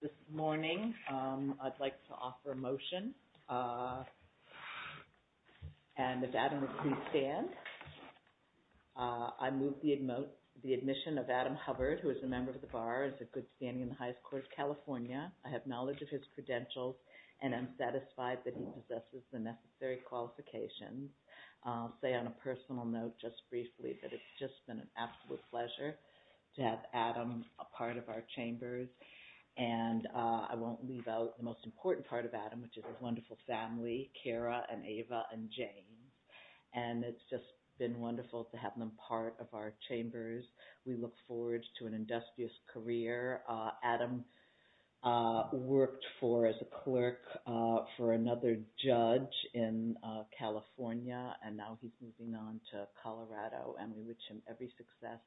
This morning, I'd like to offer a motion, and if Adam would please stand. I move the admission of Adam Hubbard, who is a member of the Bar, is a good standing in the highest court of California. I have knowledge of his credentials, and I'm satisfied that he possesses the necessary qualifications. I'll say on a personal note, just briefly, that it's just been an absolute pleasure to have Adam a part of our chambers. And I won't leave out the most important part of Adam, which is his wonderful family, Kara and Ava and Jane. And it's just been wonderful to have them part of our chambers. We look forward to an industrious career. Adam worked for, as a clerk, for another judge in California, and now he's moving on to Colorado. And we wish him every success,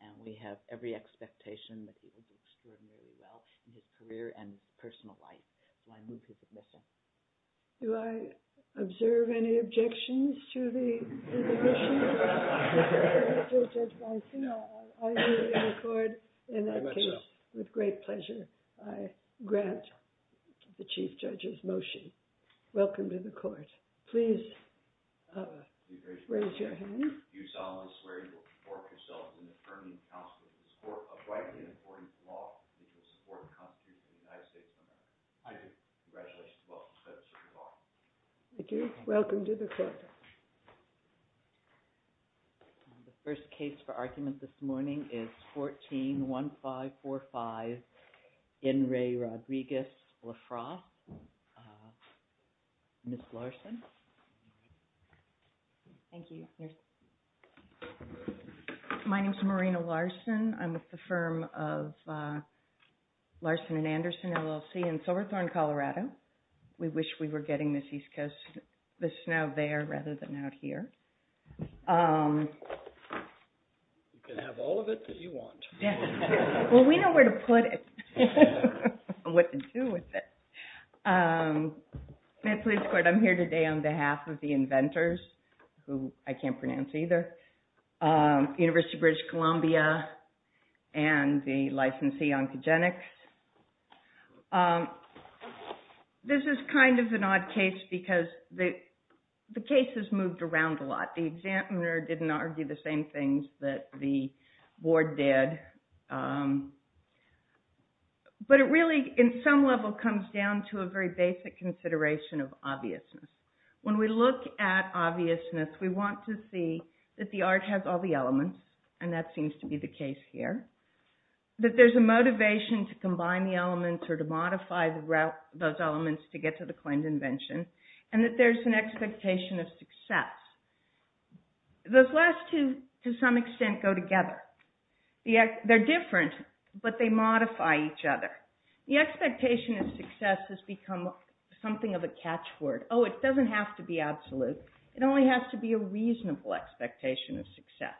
and we have every expectation that he will do extraordinarily well in his career and personal life. Do I observe any objections to the position? I do record in that case, with great pleasure, I grant the Chief Judge's motion. Welcome to the court. Please raise your hand. You solemnly swear you will support yourself in affirming the counsel of this court, apply to it in accordance with the law, and to the support of the Constitution of the United States of America. I do. Congratulations. Welcome to the court. Thank you. Welcome to the court. The first case for argument this morning is 14-1545, Enri Rodriguez LaFrosse. Ms. Larson. Thank you. My name is Marina Larson. I'm with the firm of Larson and Anderson LLC in Silverthorne, Colorado. We wish we were getting this East Coast. This is now there rather than out here. You can have all of it that you want. Well, we know where to put it and what to do with it. I'm here today on behalf of the inventors, who I can't pronounce either, University of British Columbia and the licensee, Oncogenics. This is kind of an odd case because the cases moved around a lot. The examiner didn't argue the same things that the board did. But it really, in some level, comes down to a very basic consideration of obviousness. When we look at obviousness, we want to see that the art has all the elements, and that seems to be the case here, that there's a motivation to combine the elements or to modify those elements to get to the claimed invention, and that there's an expectation of success. Those last two, to some extent, go together. They're different, but they modify each other. The expectation of success has become something of a catchword. Oh, it doesn't have to be absolute. It only has to be a reasonable expectation of success.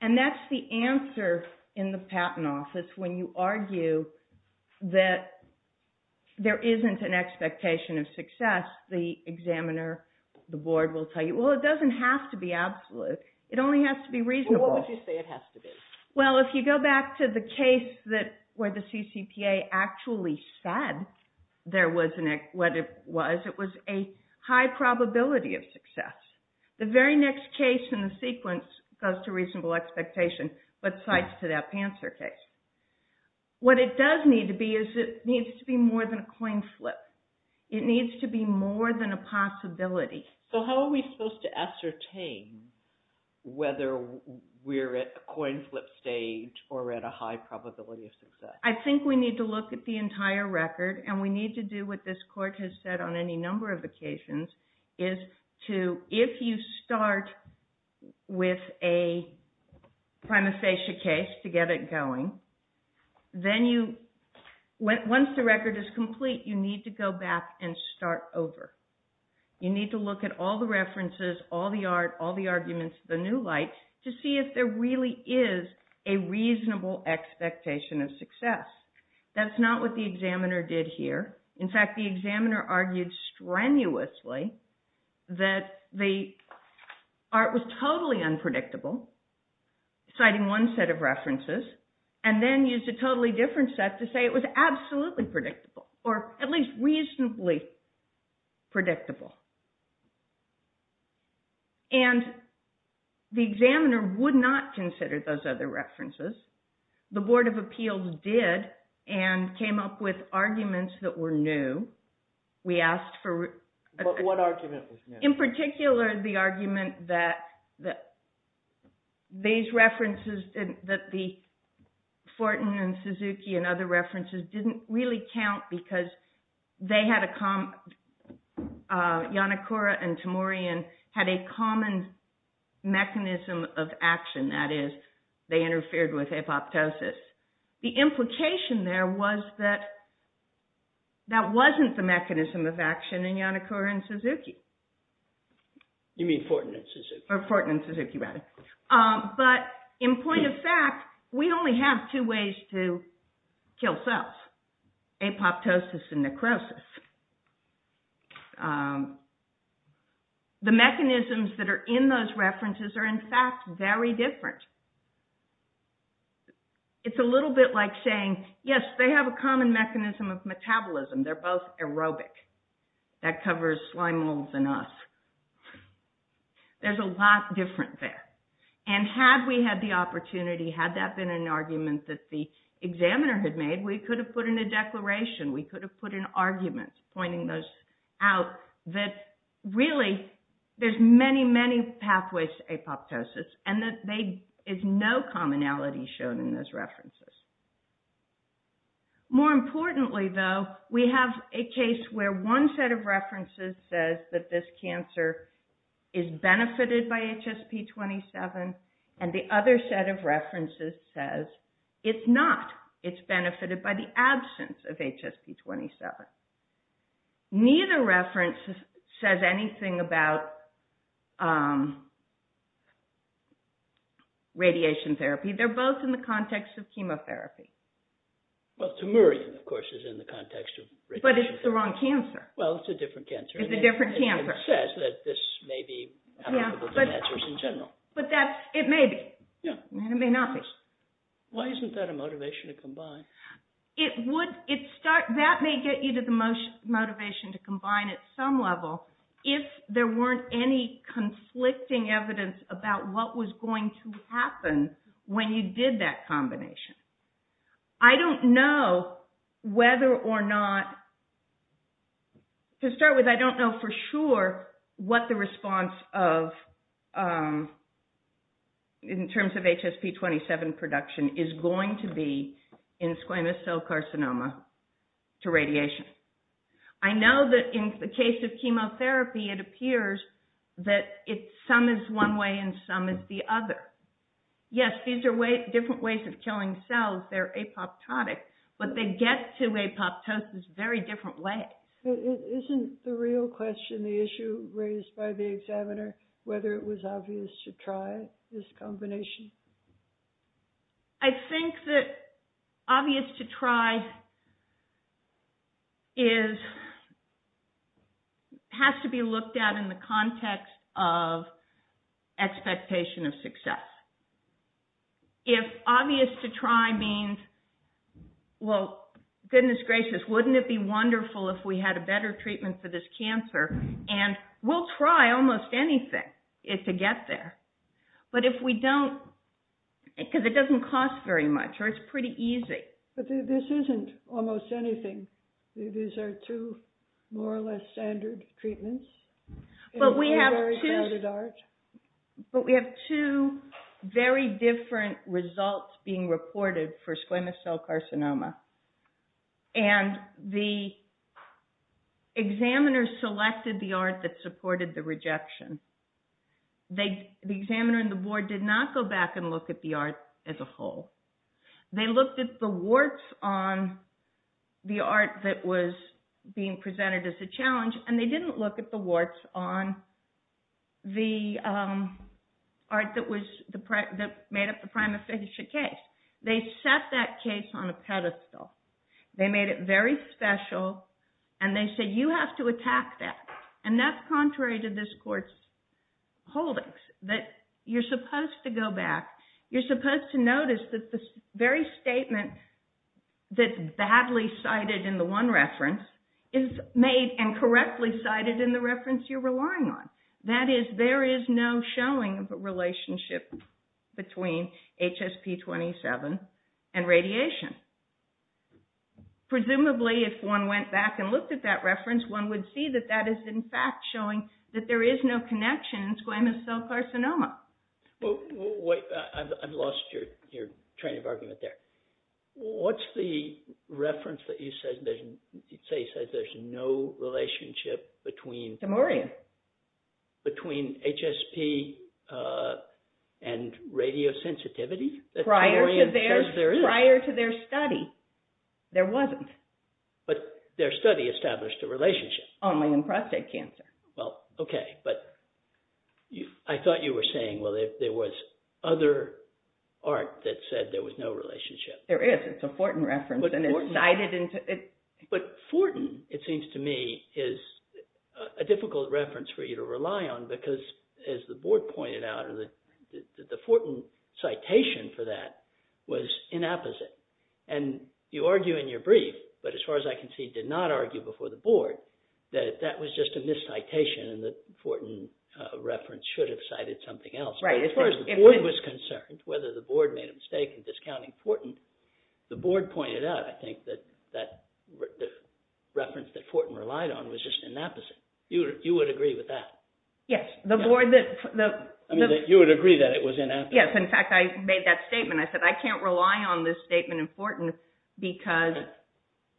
And that's the answer in the patent office when you argue that there isn't an expectation of success. That's the examiner, the board, will tell you. Well, it doesn't have to be absolute. It only has to be reasonable. Well, what would you say it has to be? Well, if you go back to the case where the CCPA actually said what it was, it was a high probability of success. The very next case in the sequence goes to reasonable expectation, but cites to that Panzer case. What it does need to be is it needs to be more than a coin flip. It needs to be more than a possibility. So how are we supposed to ascertain whether we're at a coin flip stage or at a high probability of success? I think we need to look at the entire record, and we need to do what this court has said on any number of occasions, is if you start with a prima facie case to get it going, then once the record is complete, you need to go back and start over. You need to look at all the references, all the arguments, the new lights, to see if there really is a reasonable expectation of success. That's not what the examiner did here. In fact, the examiner argued strenuously that the art was totally unpredictable, citing one set of references, and then used a totally different set to say it was absolutely predictable, or at least reasonably predictable. And the examiner would not consider those other references. The Board of Appeals did and came up with arguments that were new. We asked for – But what argument was new? In particular, the argument that these references, that the Fortin and Suzuki and other references didn't really count because they had a – Yanakura and Timurian had a common mechanism of action, that is, they interfered with apoptosis. The implication there was that that wasn't the mechanism of action in Yanakura and Suzuki. You mean Fortin and Suzuki. Fortin and Suzuki, rather. But in point of fact, we only have two ways to kill cells, apoptosis and necrosis. The mechanisms that are in those references are, in fact, very different. It's a little bit like saying, yes, they have a common mechanism of metabolism. They're both aerobic. That covers slime molds and us. There's a lot different there. And had we had the opportunity, had that been an argument that the examiner had made, we could have put in a declaration. We could have put in arguments pointing those out that, really, there's many, many pathways to apoptosis, and that there is no commonality shown in those references. More importantly, though, we have a case where one set of references says that this cancer is benefited by HSP27, and the other set of references says it's not. It's benefited by the absence of HSP27. Neither reference says anything about radiation therapy. They're both in the context of chemotherapy. Well, tumourin, of course, is in the context of radiation therapy. But it's the wrong cancer. Well, it's a different cancer. It's a different cancer. It says that this may be applicable to cancers in general. But it may be. It may not be. Why isn't that a motivation to combine? That may get you to the motivation to combine at some level if there weren't any conflicting evidence about what was going to happen when you did that combination. I don't know whether or not... To start with, I don't know for sure what the response in terms of HSP27 production is going to be in squamous cell carcinoma to radiation. I know that in the case of chemotherapy, it appears that some is one way and some is the other. Yes, these are different ways of killing cells. They're apoptotic. But they get to apoptosis a very different way. Isn't the real question, the issue raised by the examiner, whether it was obvious to try this combination? I think that obvious to try has to be looked at in the context of expectation of success. If obvious to try means, well, goodness gracious, wouldn't it be wonderful if we had a better treatment for this cancer? And we'll try almost anything to get there. But if we don't... Because it doesn't cost very much or it's pretty easy. But this isn't almost anything. These are two more or less standard treatments. But we have two very different results being reported for squamous cell carcinoma. And the examiner selected the art that supported the rejection. The examiner and the board did not go back and look at the art as a whole. They looked at the warts on the art that was being presented as a challenge. And they didn't look at the warts on the art that made up the prima ficia case. They set that case on a pedestal. They made it very special. And they said, you have to attack that. And that's contrary to this court's holdings. That you're supposed to go back. You're supposed to notice that the very statement that's badly cited in the one reference is made and correctly cited in the reference you're relying on. That is, there is no showing of a relationship between HSP27 and radiation. Presumably, if one went back and looked at that reference, one would see that that is, in fact, showing that there is no connection in squamous cell carcinoma. I've lost your train of argument there. What's the reference that you say says there's no relationship between... Temorium. Between HSP and radiosensitivity? Prior to their study, there wasn't. But their study established a relationship. Only in prostate cancer. Well, okay. But I thought you were saying, well, there was other art that said there was no relationship. There is. It's a Fortin reference. But Fortin, it seems to me, is a difficult reference for you to rely on. Because, as the board pointed out, the Fortin citation for that was inapposite. And you argue in your brief, but as far as I can see, did not argue before the board, that that was just a miscitation and the Fortin reference should have cited something else. But as far as the board was concerned, whether the board made a mistake in discounting Fortin, the board pointed out, I think, that the reference that Fortin relied on was just inapposite. You would agree with that? Yes. You would agree that it was inapposite? Yes. In fact, I made that statement. I said, I can't rely on this statement in Fortin. So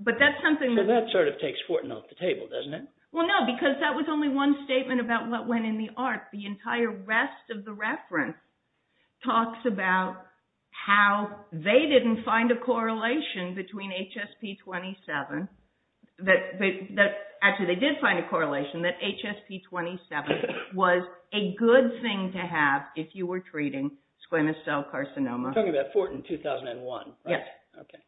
that sort of takes Fortin off the table, doesn't it? Well, no. Because that was only one statement about what went in the art. The entire rest of the reference talks about how they didn't find a correlation between HSP-27. Actually, they did find a correlation that HSP-27 was a good thing to have if you were treating squamous cell carcinoma. You're talking about Fortin 2001, right? Yes. Okay.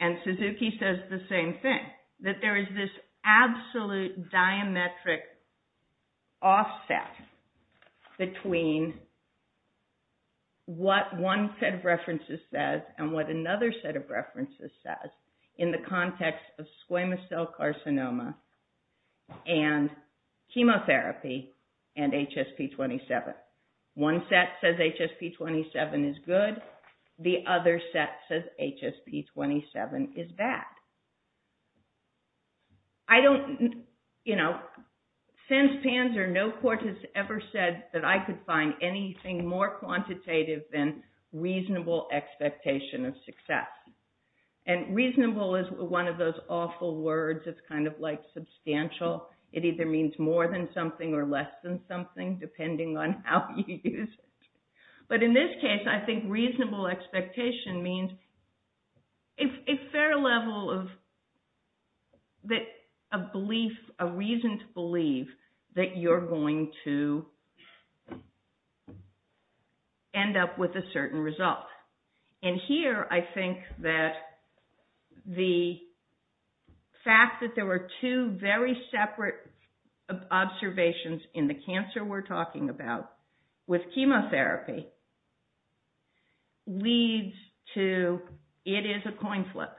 And Suzuki says the same thing, that there is this absolute diametric offset between what one set of references says and what another set of references says in the context of squamous cell carcinoma and chemotherapy and HSP-27. One set says HSP-27 is good. The other set says HSP-27 is bad. Since Panzer, no court has ever said that I could find anything more quantitative than reasonable expectation of success. And reasonable is one of those awful words. It's kind of like substantial. It either means more than something or less than something, depending on how you use it. But in this case, I think reasonable expectation means a fair level of belief, a reason to believe that you're going to end up with a certain result. And here, I think that the fact that there were two very separate observations in the cancer we're talking about with chemotherapy leads to it is a coin flip.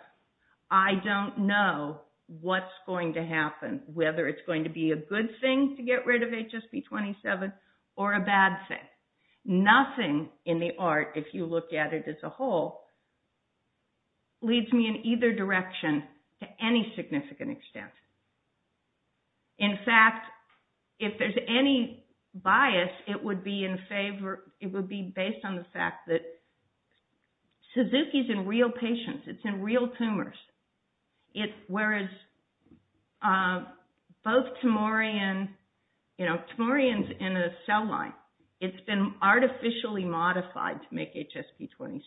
I don't know what's going to happen, whether it's going to be a good thing to get rid of HSP-27 or a bad thing. Nothing in the art, if you look at it as a whole, leads me in either direction to any significant extent. In fact, if there's any bias, it would be based on the fact that Suzuki's in real patients. It's in real tumors. Whereas both Tamorian, Tamorian's in a cell line. It's been artificially modified to make HSP-27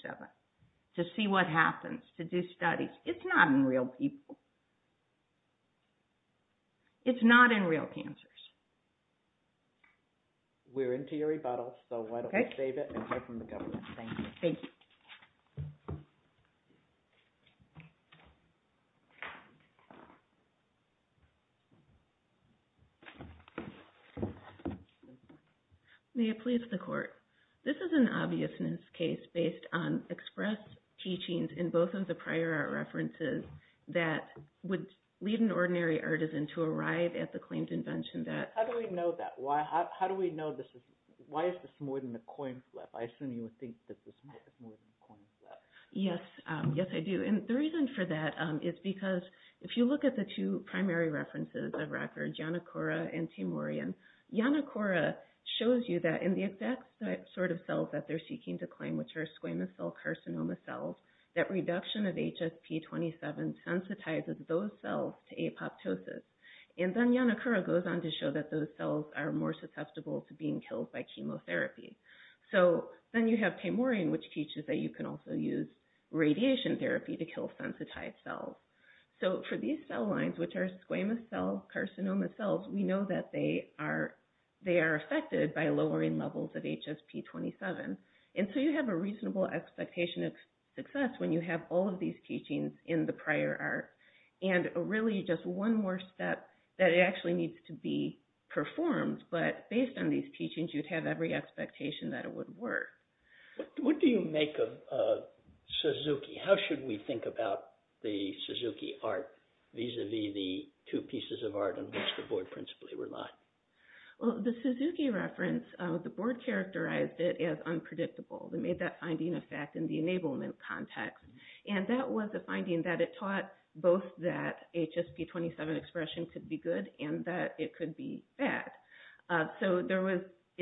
to see what happens, to do studies. It's not in real people. It's not in real cancers. We're into your rebuttal, so why don't we save it and hear from the government. Thank you. Thank you. May it please the court. This is an obviousness case based on express teachings in both of the prior art references that would lead an ordinary artisan to arrive at the claimed invention that… How do we know that? Why is this more than a coin flip? I assume you would think that this is more than a coin flip. Yes. Yes, I do. The reason for that is because if you look at the two primary references of record, Yanakura and Tamorian, Yanakura shows you that in the exact sort of cells that they're seeking to claim, which are squamous cell carcinoma cells, that reduction of HSP-27 sensitizes those cells to apoptosis. Then Yanakura goes on to show that those cells are more susceptible to being killed by chemotherapy. Then you have Tamorian, which teaches that you can also use radiation therapy to kill sensitized cells. For these cell lines, which are squamous cell carcinoma cells, we know that they are affected by lowering levels of HSP-27. You have a reasonable expectation of success when you have all of these teachings in the prior art. Really, just one more step that it actually needs to be performed, but based on these teachings, you'd have every expectation that it would work. What do you make of Suzuki? How should we think about the Suzuki art vis-a-vis the two pieces of art on which the board principally relied? The Suzuki reference, the board characterized it as unpredictable. They made that finding a fact in the enablement context. That was a finding that it taught both that HSP-27 expression could be good and that it could be bad.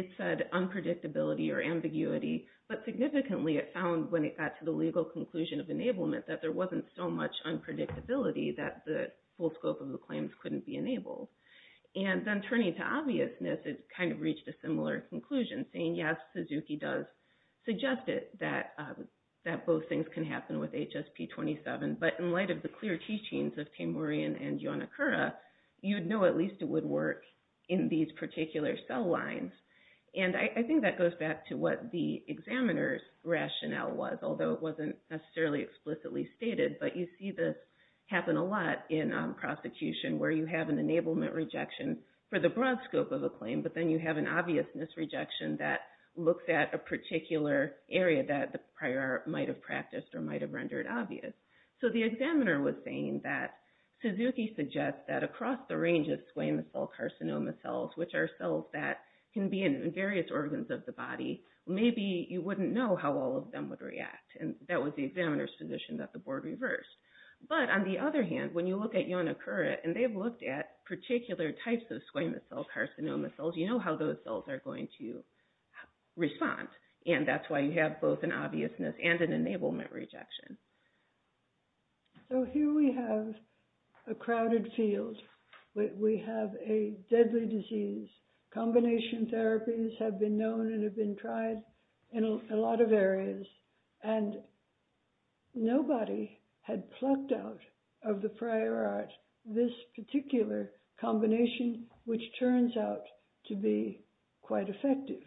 It said unpredictability or ambiguity, but significantly it found when it got to the legal conclusion of enablement that there wasn't so much unpredictability that the full scope of the claims couldn't be enabled. Then turning to obviousness, it reached a similar conclusion saying, yes, Suzuki does suggest that both things can happen with HSP-27, but in light of the clear teachings of Tamorian and Yonakura, you'd know at least it would work in these particular cell lines. I think that goes back to what the examiner's rationale was, although it wasn't necessarily explicitly stated. You see this happen a lot in prosecution where you have an enablement rejection for the broad scope of a claim, but then you have an obviousness rejection that looks at a particular area that the prior art might have practiced or might have rendered obvious. The examiner was saying that Suzuki suggests that across the range of squamous cell carcinoma cells, which are cells that can be in various organs of the body, maybe you wouldn't know how all of them would react. That was the examiner's position that the board reversed. But on the other hand, when you look at Yonakura and they've looked at particular types of squamous cell carcinoma cells, you know how those cells are going to respond. And that's why you have both an obviousness and an enablement rejection. So here we have a crowded field. We have a deadly disease. Combination therapies have been known and have been tried in a lot of areas, and nobody had plucked out of the prior art this particular combination, which turns out to be quite effective.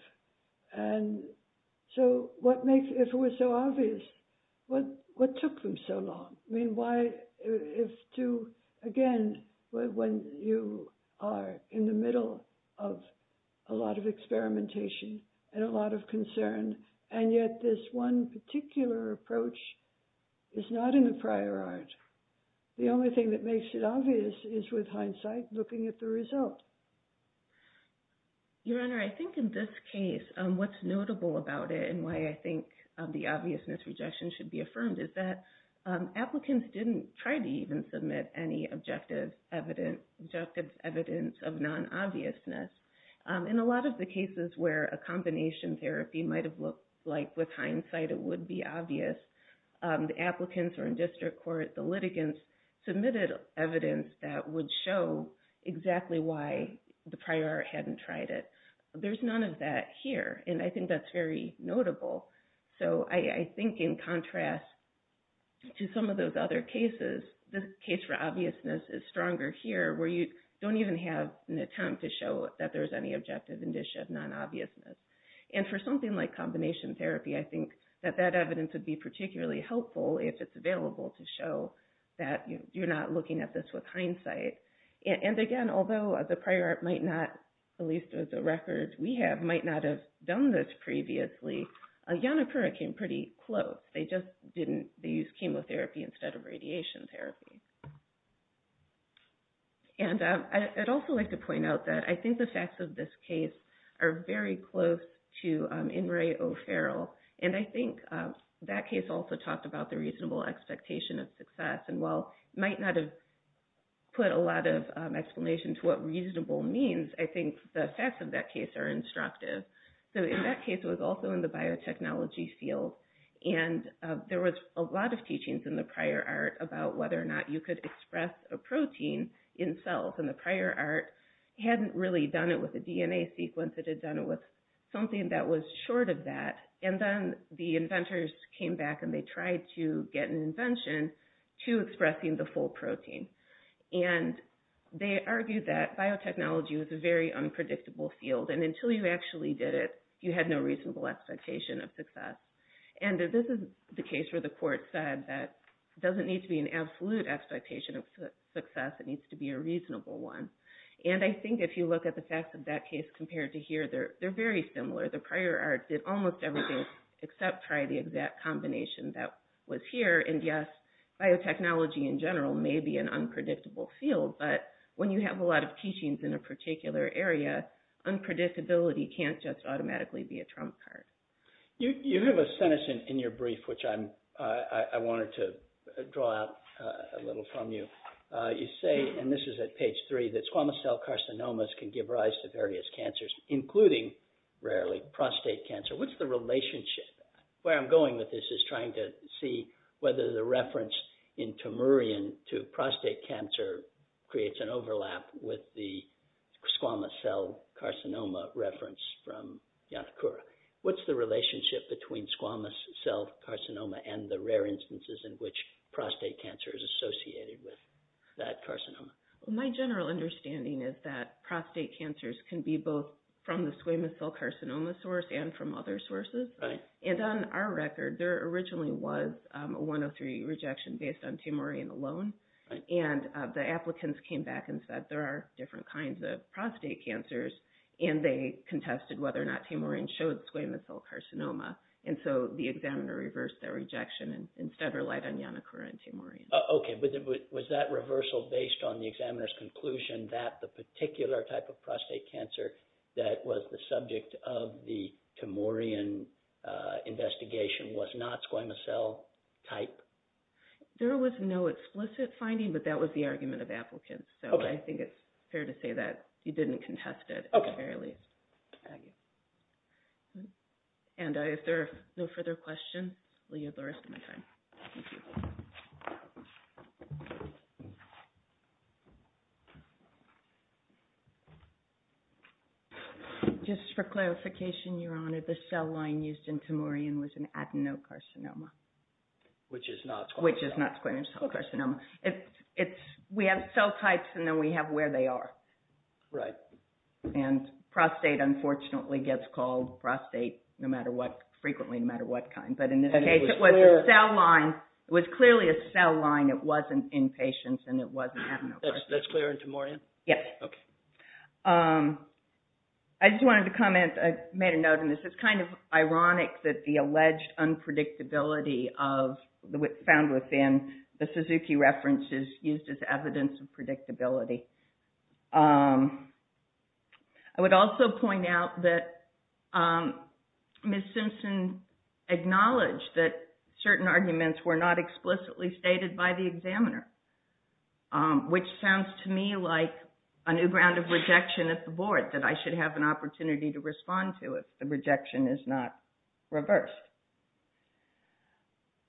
And so if it was so obvious, what took them so long? I mean, again, when you are in the middle of a lot of experimentation and a lot of concern, and yet this one particular approach is not in the prior art, the only thing that makes it obvious is, with hindsight, looking at the result. Your Honor, I think in this case, what's notable about it and why I think the obviousness rejection should be affirmed is that applicants didn't try to even submit any objective evidence of non-obviousness. In a lot of the cases where a combination therapy might have looked like, with hindsight, it would be obvious, the applicants were in district court, the litigants submitted evidence that would show exactly why the prior art hadn't tried it. There's none of that here, and I think that's very notable. So I think in contrast to some of those other cases, the case for obviousness is stronger here, where you don't even have an attempt to show that there's any objective indicia of non-obviousness. And for something like combination therapy, I think that that evidence would be particularly helpful if it's available to show that you're not looking at this with hindsight. And again, although the prior art might not, at least with the records we have, might not have done this previously, Yonapura came pretty close. They just didn't, they used chemotherapy instead of radiation therapy. And I'd also like to point out that I think the facts of this case are very close to In re O'Farrell, and I think that case also talked about the reasonable expectation of success, and while it might not have put a lot of explanation to what reasonable means, I think the facts of that case are instructive. So in that case, it was also in the biotechnology field, and there was a lot of teachings in the prior art about whether or not you could express a protein in cells. And the prior art hadn't really done it with a DNA sequence, it had done it with something that was short of that, and then the inventors came back and they tried to get an invention to expressing the full protein. And they argued that biotechnology was a very unpredictable field, and until you actually did it, you had no reasonable expectation of success. And this is the case where the court said that it doesn't need to be an absolute expectation of success, it needs to be a reasonable one. And I think if you look at the facts of that case compared to here, they're very similar. The prior art did almost everything except try the exact combination that was here, and yes, biotechnology in general may be an unpredictable field, but when you have a lot of teachings in a particular area, unpredictability can't just automatically be a trump card. You have a sentence in your brief which I wanted to draw out a little from you. You say, and this is at page three, that squamous cell carcinomas can give rise to various cancers, including, rarely, prostate cancer. What's the relationship? Where I'm going with this is trying to see whether the reference in Tamurian to prostate cancer creates an overlap with the squamous cell carcinoma reference from Yantakura. What's the relationship between squamous cell carcinoma and the rare instances in which prostate cancer is associated with that carcinoma? My general understanding is that prostate cancers can be both from the squamous cell carcinoma source and from other sources. And on our record, there originally was a 103 rejection based on Tamurian alone. And the applicants came back and said there are different kinds of prostate cancers, and they contested whether or not Tamurian showed squamous cell carcinoma. And so the examiner reversed their rejection and instead relied on Yantakura and Tamurian. Okay, but was that reversal based on the examiner's conclusion that the particular type of prostate cancer that was the subject of the Tamurian investigation was not squamous cell type? There was no explicit finding, but that was the argument of applicants. So I think it's fair to say that you didn't contest it. And if there are no further questions, we have the rest of my time. Thank you. Just for clarification, Your Honor, the cell line used in Tamurian was an adenocarcinoma. Which is not squamous cell carcinoma. We have cell types, and then we have where they are. Right. And prostate, unfortunately, gets called prostate frequently no matter what kind. But in this case, it was clearly a cell line. It wasn't in patients, and it wasn't adenocarcinoma. That's clear in Tamurian? Yes. Okay. I just wanted to comment. I made a note of this. It's kind of ironic that the alleged unpredictability found within the Suzuki reference is used as evidence of predictability. I would also point out that Ms. Simpson acknowledged that certain arguments were not explicitly stated by the examiner. Which sounds to me like a new ground of rejection at the Board that I should have an opportunity to respond to if the rejection is not reversed.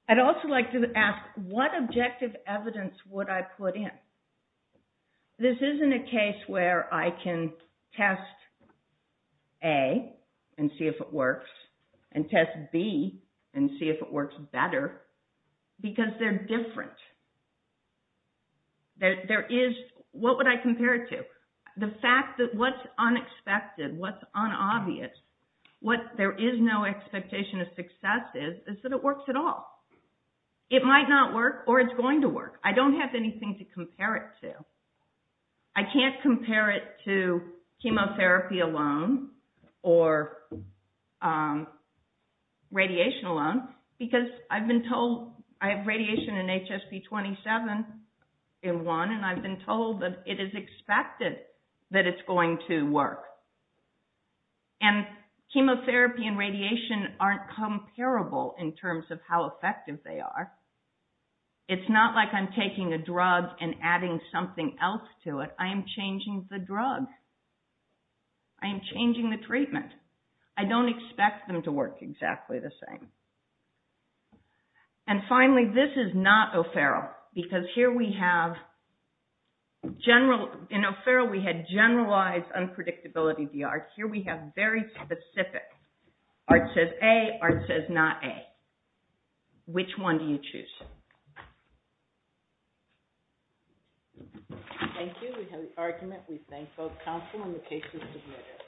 I'd also like to ask, what objective evidence would I put in? This isn't a case where I can test A and see if it works, and test B and see if it works better. Because they're different. There is... What would I compare it to? The fact that what's unexpected, what's unobvious, what there is no expectation of success is, is that it works at all. I don't have anything to compare it to. I can't compare it to chemotherapy alone, or radiation alone. Because I've been told... I have radiation in HSP27 in one, and I've been told that it is expected that it's going to work. And chemotherapy and radiation aren't comparable in terms of how effective they are. It's not like I'm taking a drug and adding something else to it. I am changing the drug. I am changing the treatment. I don't expect them to work exactly the same. And finally, this is not O'Farrell. Because here we have general... In O'Farrell, we had generalized unpredictability of the art. Here we have very specific. Art says A, art says not A. Which one do you choose? Thank you. We have the argument. We thank both counsel and the case is submitted.